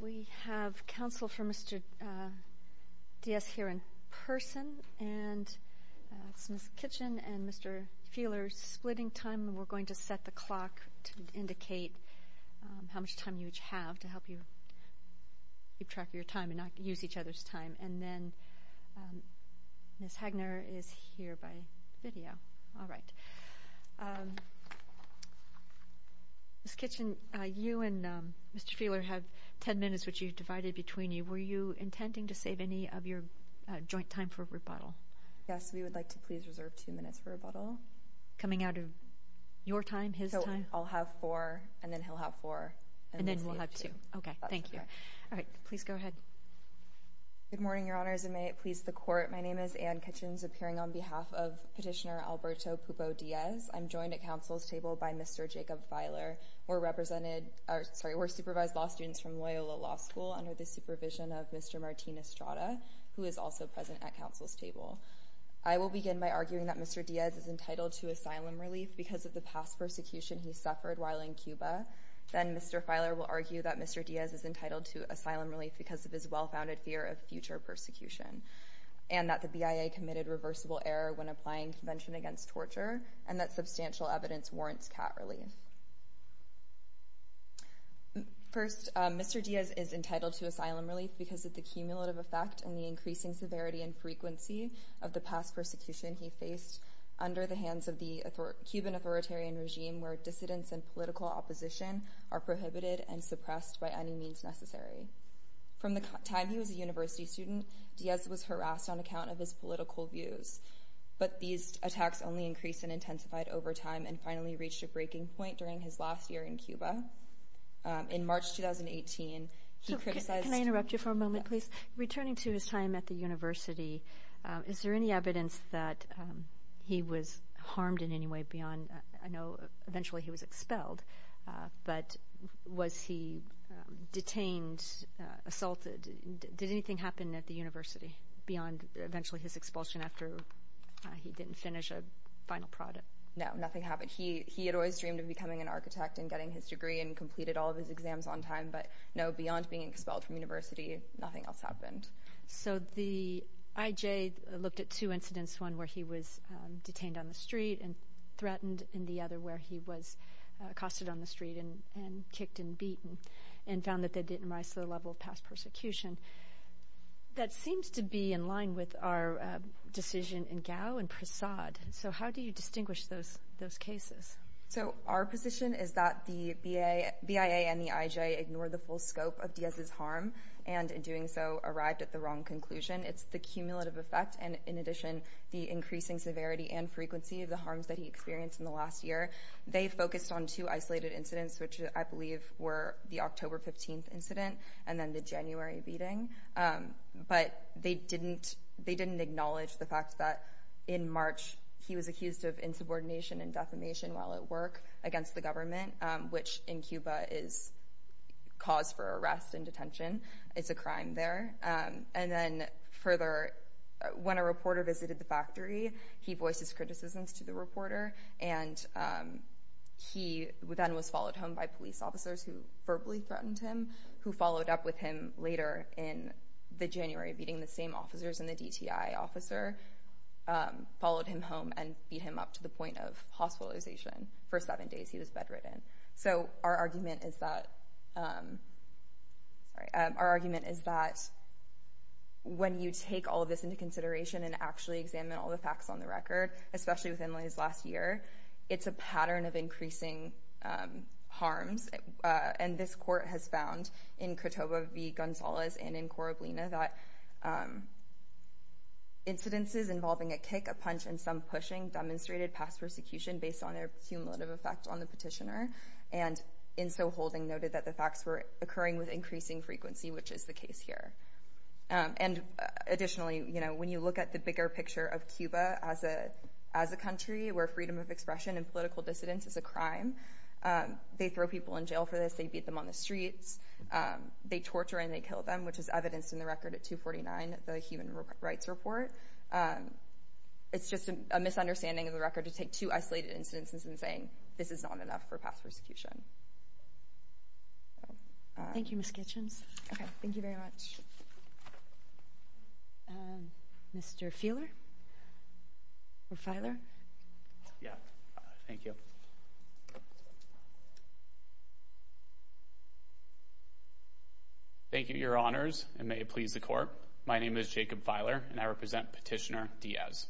We have counsel for Mr. Diaz here in person and it's Ms. Kitchen and Mr. Feeler splitting time. We're going to set the clock to indicate how much time you each have to help you keep track of your time and not use each other's time and then Ms. Hagner is here by video. All right. Ms. Kitchen, you and Mr. Feeler have 10 minutes which you've divided between you. Were you intending to save any of your joint time for rebuttal? Ms. Kitchen Yes, we would like to please reserve two minutes for rebuttal. Ms. Laird Coming out of your time, his time? Ms. Kitchen So I'll have four and then he'll have four and then we'll save two. Ms. Laird And then we'll have two. Okay, thank you. Ms. Kitchen That's correct. Ms. Laird All right, please go ahead. Ms. Kitchens Good morning, Your Honors, and may it please the Court. My name is Anne Kitchens, appearing on behalf of Petitioner Alberto Pupo-Diaz. I'm joined at counsel's table by Mr. Jacob Feiler. We're supervised law students from Loyola Law School under the supervision of Mr. Martin Estrada, who is also present at counsel's table. I will begin by arguing that Mr. Diaz is entitled to asylum relief because of the past persecution he suffered while in Cuba. Then Mr. Feiler will argue that Mr. Diaz is entitled to asylum relief because of his well-founded fear of future persecution and that the BIA committed reversible error when applying Convention Against Torture and that substantial evidence warrants cat relief. First, Mr. Diaz is entitled to asylum relief because of the cumulative effect and the increasing severity and frequency of the past persecution he faced under the hands of the Cuban authoritarian regime where dissidence and political opposition are prohibited and suppressed by any means necessary. From the time he was a university student, Diaz was harassed on account of his political views, but these attacks only increased and intensified over time and finally reached a breaking point during his last year in Cuba. In March 2018, he criticized- Can I interrupt you for a moment, please? Returning to his time at the university, is there any evidence that he was harmed in any way beyond- I know eventually he was expelled, but was he detained, assaulted? Did anything happen at the university beyond eventually his expulsion after he didn't finish a final project? No, nothing happened. He had always dreamed of becoming an architect and getting his degree and completed all of his exams on time, but no, beyond being expelled from university, nothing else happened. So the IJ looked at two incidents, one where he was detained on the street and threatened, and the other where he was accosted on the street and kicked and beaten and found that they didn't rise to the level of past persecution. That seems to be in line with our decision in Gao and Prasad. So how do you distinguish those cases? So our position is that the BIA and the IJ ignore the full scope of Diaz's harm and in fact, at the wrong conclusion. It's the cumulative effect and in addition, the increasing severity and frequency of the harms that he experienced in the last year. They focused on two isolated incidents which I believe were the October 15th incident and then the January beating, but they didn't acknowledge the fact that in March, he was accused of insubordination and defamation while at work against the government, which in Cuba is cause for arrest and detention. It's a crime there. And then further, when a reporter visited the factory, he voices criticisms to the reporter and he then was followed home by police officers who verbally threatened him, who followed up with him later in the January beating, the same officers and the DTI officer followed him home and beat him up to the point of hospitalization for seven days. He was bedridden. So our argument is that when you take all of this into consideration and actually examine all the facts on the record, especially within his last year, it's a pattern of increasing harms and this court has found in Cotoba v. Gonzalez and in Coroblina that incidences involving a kick, a punch and some pushing demonstrated past persecution based on their cumulative effect on the petitioner and in so holding noted that the facts were occurring with increasing frequency, which is the case here. And additionally, when you look at the bigger picture of Cuba as a country where freedom of expression and political dissidence is a crime, they throw people in jail for this, they beat them on the streets, they torture and they kill them, which is evidenced in the record at 249, the Human Rights Report. It's just a misunderstanding of the record to take two isolated incidences and saying this is not enough for past persecution. Thank you, Ms. Kitchens. Okay, thank you very much. Mr. Feeler or Feiler? Yeah, thank you. Thank you, Your Honors, and may it please the court. My name is Jacob Feiler and I represent Petitioner Diaz.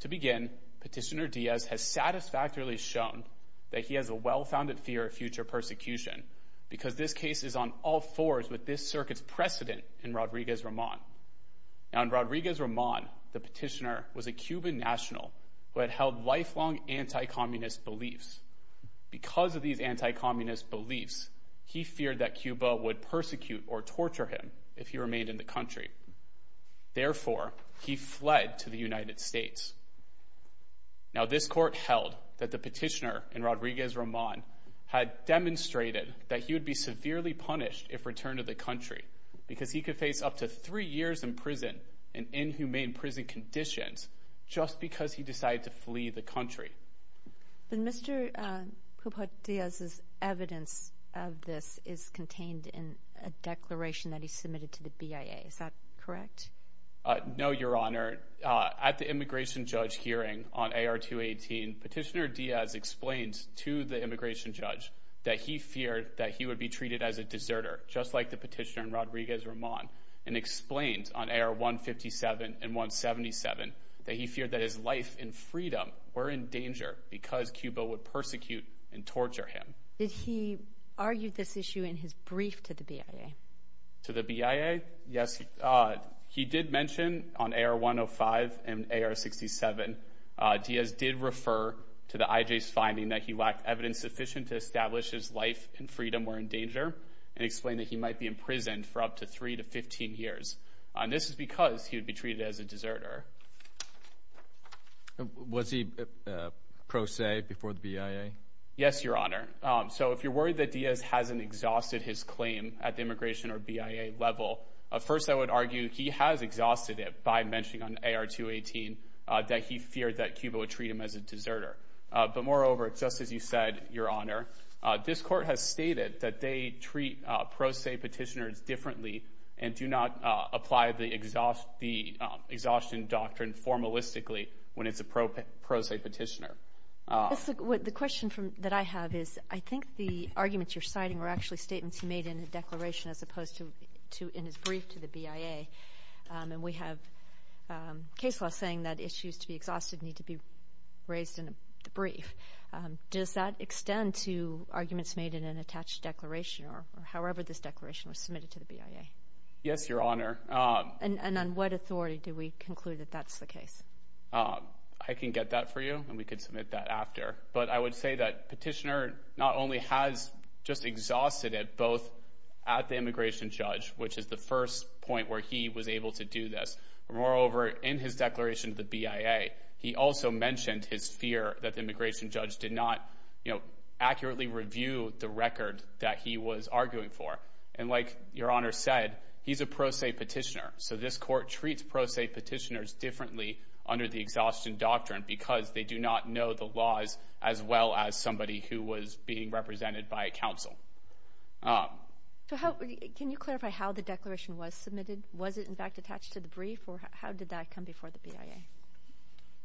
To begin, Petitioner Diaz has satisfactorily shown that he has a well-founded fear of future persecution because this case is on all fours with this circuit's precedent in Rodriguez-Ramon. Now in Rodriguez-Ramon, the petitioner was a Cuban national who had held lifelong anti-communist beliefs. Because of these anti-communist beliefs, he feared that Cuba would persecute or torture him if he remained in the country. Therefore, he fled to the United States. Now this court held that the petitioner in Rodriguez-Ramon had demonstrated that he would be severely punished if returned to the country because he could face up to three years in prison and inhumane prison conditions just because he decided to flee the country. But Mr. Puput Diaz's evidence of this is contained in a declaration that he submitted to the BIA. Is that correct? No, Your Honor. At the immigration judge hearing on AR-218, Petitioner Diaz explained to the immigration judge that he feared that as a deserter, just like the petitioner in Rodriguez-Ramon, and explained on AR-157 and 177 that he feared that his life and freedom were in danger because Cuba would persecute and torture him. Did he argue this issue in his brief to the BIA? To the BIA? Yes. He did mention on AR-105 and AR-67, Diaz did refer to the IJ's finding that he lacked evidence sufficient to establish his life and freedom were in danger and explained that he might be imprisoned for up to three to 15 years. This is because he would be treated as a deserter. Was he pro se before the BIA? Yes, Your Honor. So if you're worried that Diaz hasn't exhausted his claim at the immigration or BIA level, first I would argue he has exhausted it by mentioning on AR-218 that he feared that Cuba would treat him as a deserter. But moreover, just as you said, Your Honor, this court has stated that they treat pro se petitioners differently and do not apply the exhaustion doctrine formalistically when it's a pro se petitioner. The question that I have is I think the arguments you're citing were actually statements he made in the declaration as opposed to in his brief to the BIA. And we have case law saying that issues to be exhausted need to be raised in the brief. Does that extend to arguments made in an attached declaration or however this declaration was submitted to the BIA? Yes, Your Honor. And on what authority do we conclude that that's the case? I can get that for you and we can submit that after. But I would say that petitioner not only has just exhausted it both at the immigration judge, which is the first point where he was able to do this. Moreover, in his declaration to the BIA, he also mentioned his fear that the immigration judge did not accurately review the record that he was arguing for. And like Your Honor said, he's a pro se petitioner. So this court treats pro se petitioners differently under the exhaustion doctrine because they do not know the laws as well as somebody who was being represented by a counsel. Can you clarify how the declaration was submitted? Was it in fact attached to the brief or how did that come before the BIA?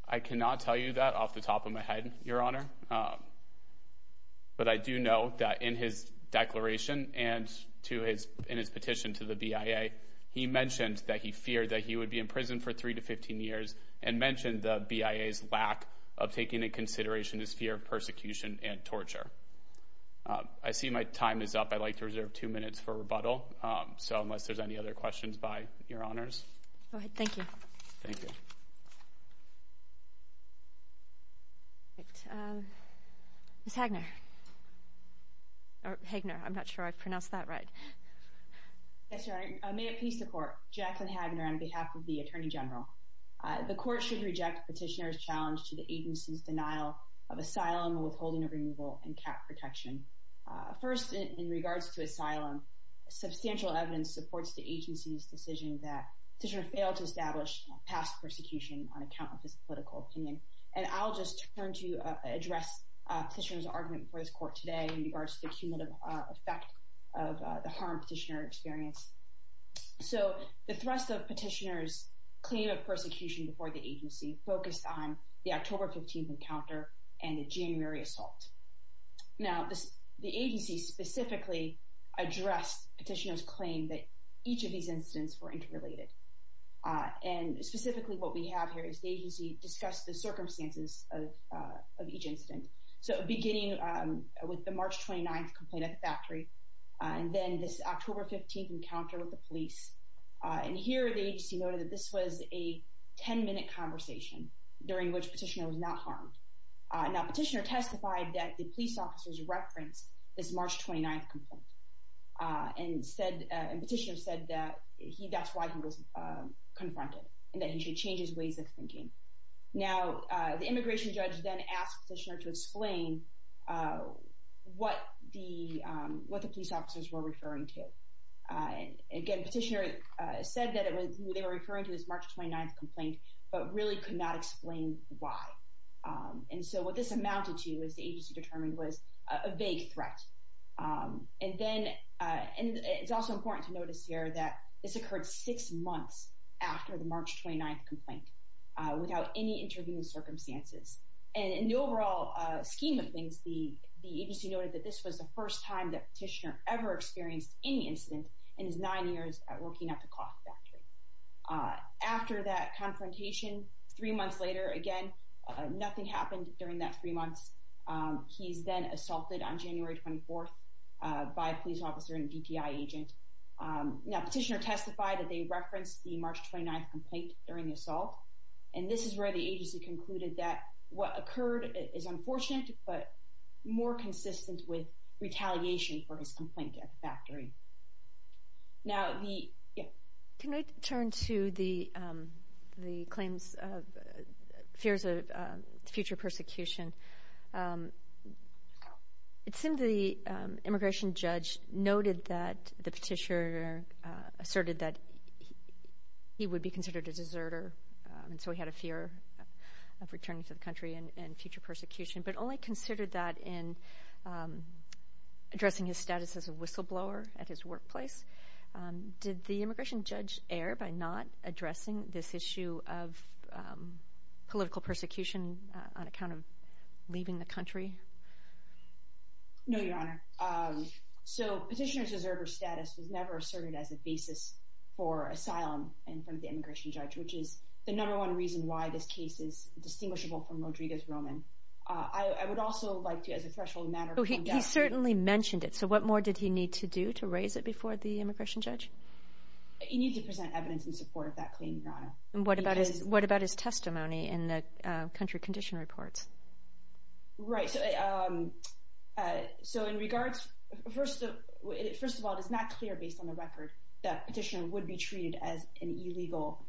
I cannot tell you that off the top of my head, Your Honor. But I do know that in his declaration and to his in his petition to the BIA, he mentioned that he feared that he would be in prison for 3 to 15 years and mentioned the BIA's lack of taking in consideration his fear of persecution and torture. I see my time is up. I'd like to reserve two minutes for rebuttal. So unless there's any other questions by Your Honors. Thank you. Ms. Hagner. Hagner. I'm not sure I pronounced that right. Yes, Your Honor. May it please the court. Jaclyn Hagner on behalf of the Attorney General. The court should reject petitioner's challenge to the agency's denial of asylum, withholding of removal and cap protection. First, in regards to asylum, substantial evidence supports the agency's decision that petitioner failed to establish past persecution on account of his political opinion. And I'll just turn to address petitioner's argument before this court today in regards to the cumulative effect of the harm petitioner experienced. So the thrust of petitioner's claim of persecution before the agency focused on the October 15th Now, the agency specifically addressed petitioner's claim that each of these incidents were interrelated. And specifically, what we have here is the agency discussed the circumstances of each incident. So beginning with the March 29th complaint at the factory and then this October 15th encounter with the police. And here the agency noted that this was a 10 minute conversation during which petitioner was not harmed. Now, petitioner testified that the police officers referenced this March 29th complaint and said, and petitioner said that he that's why he was confronted and that he should change his ways of thinking. Now, the immigration judge then asked petitioner to explain what the what the police officers were referring to. Again, petitioner said that it was they were referring to this March 29th complaint, but really could not explain why. And so what this amounted to is the agency determined was a vague threat. And then, and it's also important to notice here that this occurred six months after the March 29th complaint, without any intervening circumstances. And in the overall scheme of things, the the agency noted that this was the first time that petitioner ever experienced any incident in his nine years at working at the cloth factory. After that confrontation, three months later, again, nothing happened during that three months. He's been assaulted on January 24, by a police officer and a DPI agent. Now, petitioner testified that they referenced the March 29th complaint during the assault. And this is where the agency concluded that what occurred is unfortunate, but more consistent with retaliation for his complaint at the factory. Now, the can I turn to the, the claims of fears of future persecution? It seemed the immigration judge noted that the petitioner asserted that he would be considered a deserter. And so he had a fear of returning to the country and future persecution, but only considered that in addressing his status as a whistleblower. At his workplace, did the immigration judge err by not addressing this issue of political persecution on account of leaving the country? No, Your Honor. So petitioner's deserter status was never asserted as a basis for asylum in front of the immigration judge, which is the number one reason why this case is distinguishable from Rodriguez-Roman. I would also like to, as a threshold matter, point out... So what more did he need to do to raise it before the immigration judge? He needs to present evidence in support of that claim, Your Honor. And what about his testimony in the country condition reports? Right. So in regards... First of all, it is not clear based on the record that petitioner would be treated as an illegal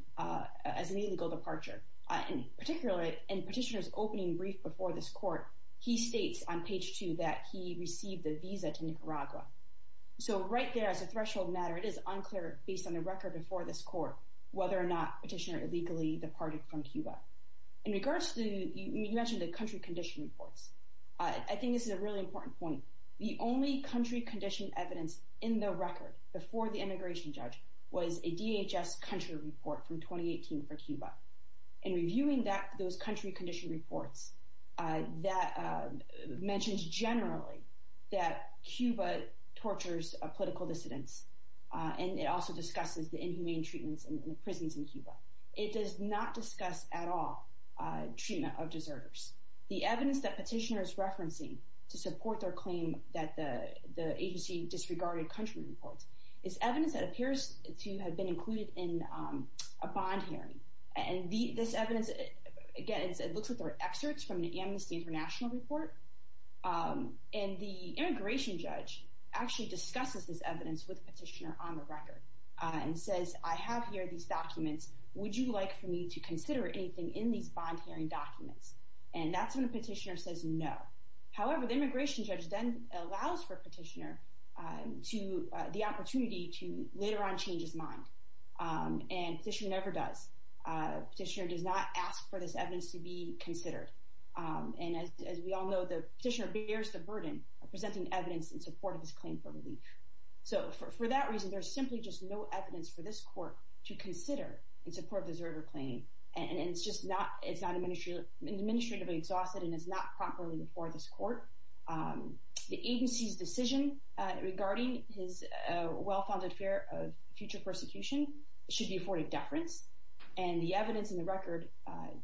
departure. And particularly in petitioner's opening brief before this court, he states on page two that he received a visa to Nicaragua. So right there, as a threshold matter, it is unclear, based on the record before this court, whether or not petitioner illegally departed from Cuba. In regards to the country condition reports, I think this is a really important point. The only country condition evidence in the record before the immigration judge was a DHS country report from 2018 for Cuba. In reviewing those country condition reports, that mentions generally that Cuba tortures political dissidents. And it also discusses the inhumane treatments in the prisons in Cuba. It does not discuss at all treatment of deserters. The evidence that petitioner is referencing to support their claim that the agency disregarded country reports is evidence that appears to have been included in a bond hearing. And this evidence, again, it looks at their excerpts from the Amnesty International report. And the immigration judge actually discusses this evidence with petitioner on the record and says, I have here these documents. Would you like for me to consider anything in these bond hearing documents? And that's when the petitioner says no. However, the immigration judge then allows for petitioner to the opportunity to later on change his mind. And petitioner never does. Petitioner does not ask for this evidence to be considered. And as we all know, the petitioner bears the burden of presenting evidence in support of his claim for relief. So for that reason, there's simply just no evidence for this court to consider in support of the deserter claim. And it's just not, it's not administratively exhausted and it's not properly before this court. The agency's decision regarding his well-founded fear of future persecution should be afforded deference. And the evidence in the record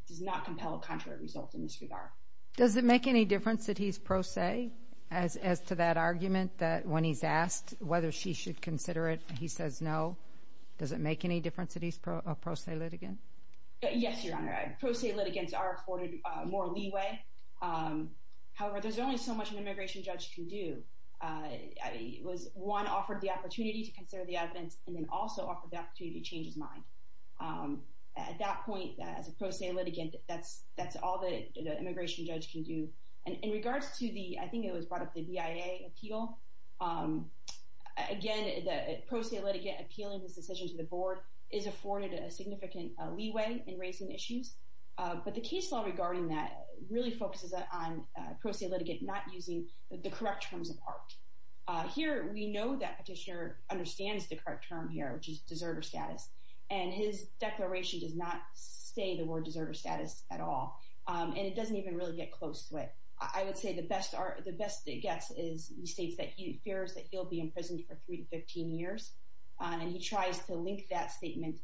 does not compel a contrary result in this regard. Does it make any difference that he's pro se as to that argument that when he's asked whether she should consider it, he says no. Does it make any difference that he's a pro se litigant? Yes, Your Honor. Pro se litigants are afforded more leeway. However, there's only so much an immigration judge can do. One, offered the opportunity to consider the evidence and then also offered the opportunity to change his mind. At that point, as a pro se litigant, that's, that's all the immigration judge can do. And in regards to the, I think it was brought up the BIA appeal. Again, the pro se litigant appealing this decision to the board is afforded a significant leeway in raising issues. But the case law regarding that really focuses on pro se litigant not using the correct terms of art. Here, we know that petitioner understands the correct term here, which is deserter status, and his declaration does not say the word deserter status at all. And it doesn't even really get close to it. I would say the best, the best it gets is he states that he fears that he'll be in prison for three to 15 years and he tries to link that statement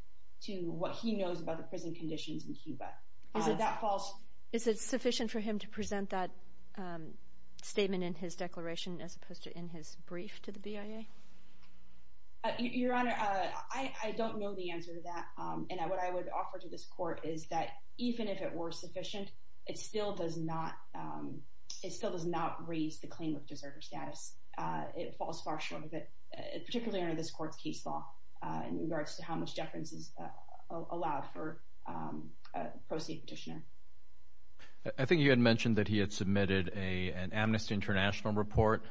to what he knows about the prison conditions in Cuba. Is it sufficient for him to present that statement in his declaration, as opposed to in his brief to the BIA? Your Honor, I don't know the answer to that. And what I would offer to this court is that even if it were sufficient, it still does not, it still does not raise the claim of deserter status. It falls far short of it, particularly under this court's case law in regards to how much deference is allowed for a pro se petitioner. I think you had mentioned that he had submitted an Amnesty International report.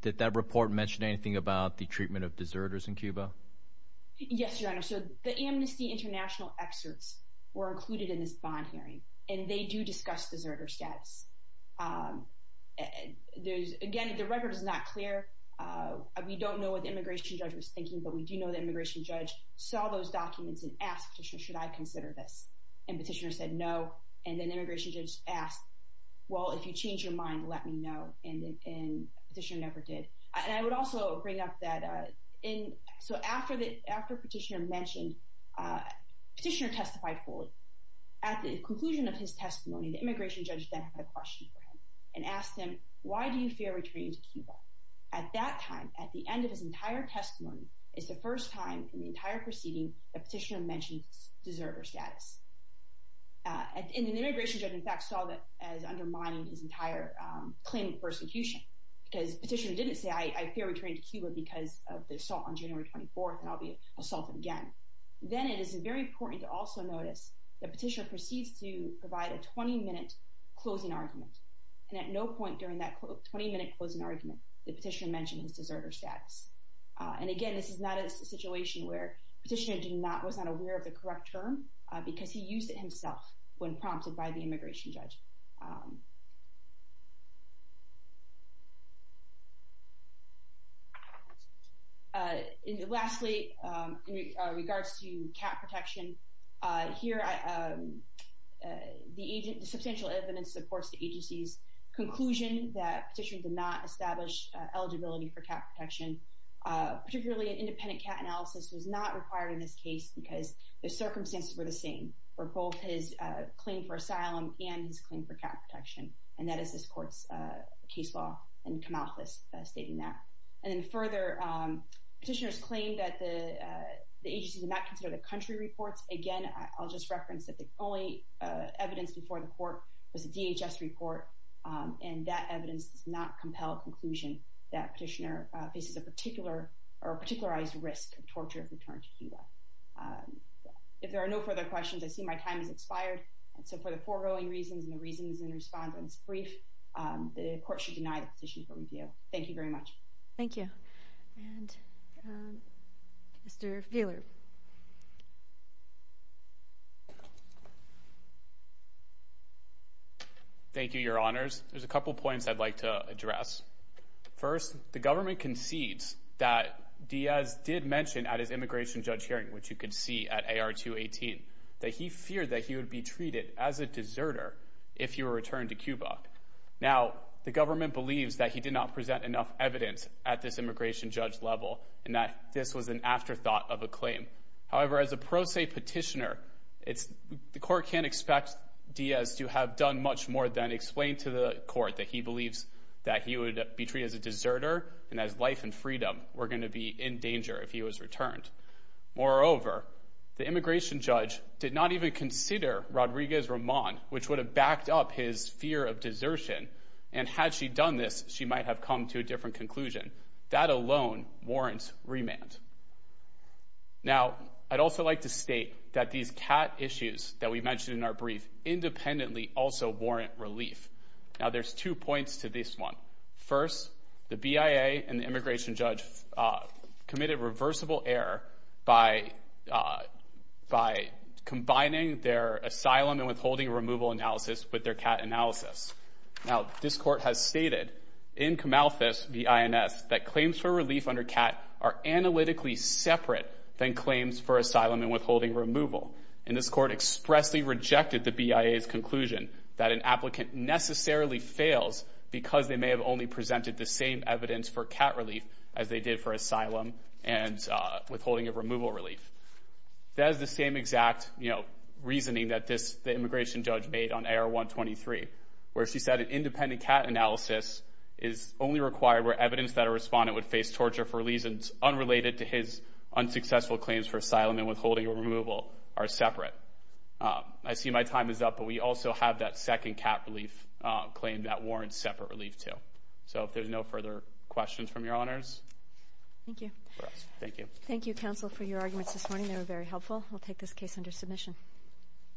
Did that report mention anything about the treatment of deserters in Cuba? Yes, Your Honor. So the Amnesty International excerpts were included in this bond hearing, and they do discuss deserter status. Again, the record is not clear. We don't know what the immigration judge was thinking, but we do know the immigration judge saw those documents and asked the petitioner, should I consider this? And the petitioner said no. And then the immigration judge asked, well, if you change your mind, let me know. And the petitioner never did. And I would also bring up that, so after the petitioner testified fully, at the conclusion of his testimony, the immigration judge then had a question for him and asked him, why do you fear returning to Cuba? At that time, at the end of his entire testimony, it's the first time in the entire proceeding, the petitioner mentioned deserter status. And the immigration judge, in fact, saw that as undermining his entire claim of persecution, because the petitioner didn't say, I fear returning to Cuba because of the assault on January 24th, and I'll be assaulted again. Then it is very important to also notice the petitioner proceeds to provide a 20-minute closing argument, and at no point during that 20-minute closing argument did the petitioner mention his deserter status. And again, this is not a situation where the petitioner was not aware of the correct term, because he used it himself when prompted by the immigration judge. Lastly, in regards to cat protection, here, the agent, the substantial evidence supports the agency's conclusion that the petitioner did not establish eligibility for cat protection. Particularly, an independent cat analysis was not required in this case, because the circumstances were the same for both his claim for asylum and his claim for cat protection, and that is this court's case law, and Kamalthus stating that. And then further, petitioners claim that the agency did not consider the country reports. Again, I'll just reference that the only evidence before the court was a DHS report, and that evidence does not compel a conclusion that a petitioner faces a particular, or a particularized risk of torture if returned to Cuba. If there are no further questions, I see my time has expired, and so for the foregoing reasons and the reasons in response on this brief, the court should deny the petition for review. Thank you very much. Thank you. And Mr. Feeler. Thank you, Your Honors. There's a couple points I'd like to address. First, the government concedes that Diaz did mention at his immigration judge hearing, which you can see at AR 218, that he feared that he would be treated as a deserter if he were returned to Cuba. Now, the government believes that he did not present enough evidence at this immigration judge level, and that this was an afterthought of a claim. However, as a pro se petitioner, the court can't expect Diaz to have done much more than explain to the court that he believes that he would be treated as a deserter, and that his life and freedom were going to be in danger if he was returned. Moreover, the immigration judge did not even consider Rodriguez-Ramon, which would have backed up his fear of desertion, and had she done this, she might have come to a different conclusion. That alone warrants remand. Now, I'd also like to state that these cat issues that we mentioned in our brief independently also warrant relief. Now, there's two points to this one. First, the BIA and the immigration judge committed reversible error by combining their asylum and withholding removal analysis with their cat analysis. Now, this court has stated in Camalthus v. INS that claims for relief under cat are analytically separate than claims for asylum and withholding removal. And this court expressly rejected the BIA's conclusion that an applicant necessarily fails because they may have only presented the same evidence for cat relief as they did for asylum and withholding of removal relief. That is the same exact reasoning that the immigration judge made on AR-123, where she said an independent cat analysis is only required where evidence that a respondent would face torture for reasons unrelated to his unsuccessful claims for asylum and withholding or removal are separate. I see my time is up, but we also have that second cat relief claim that warrants separate relief to. So, if there's no further questions from your honors. Thank you. Thank you. Thank you, counsel, for your arguments this morning. They were very helpful. I'll take this case under submission.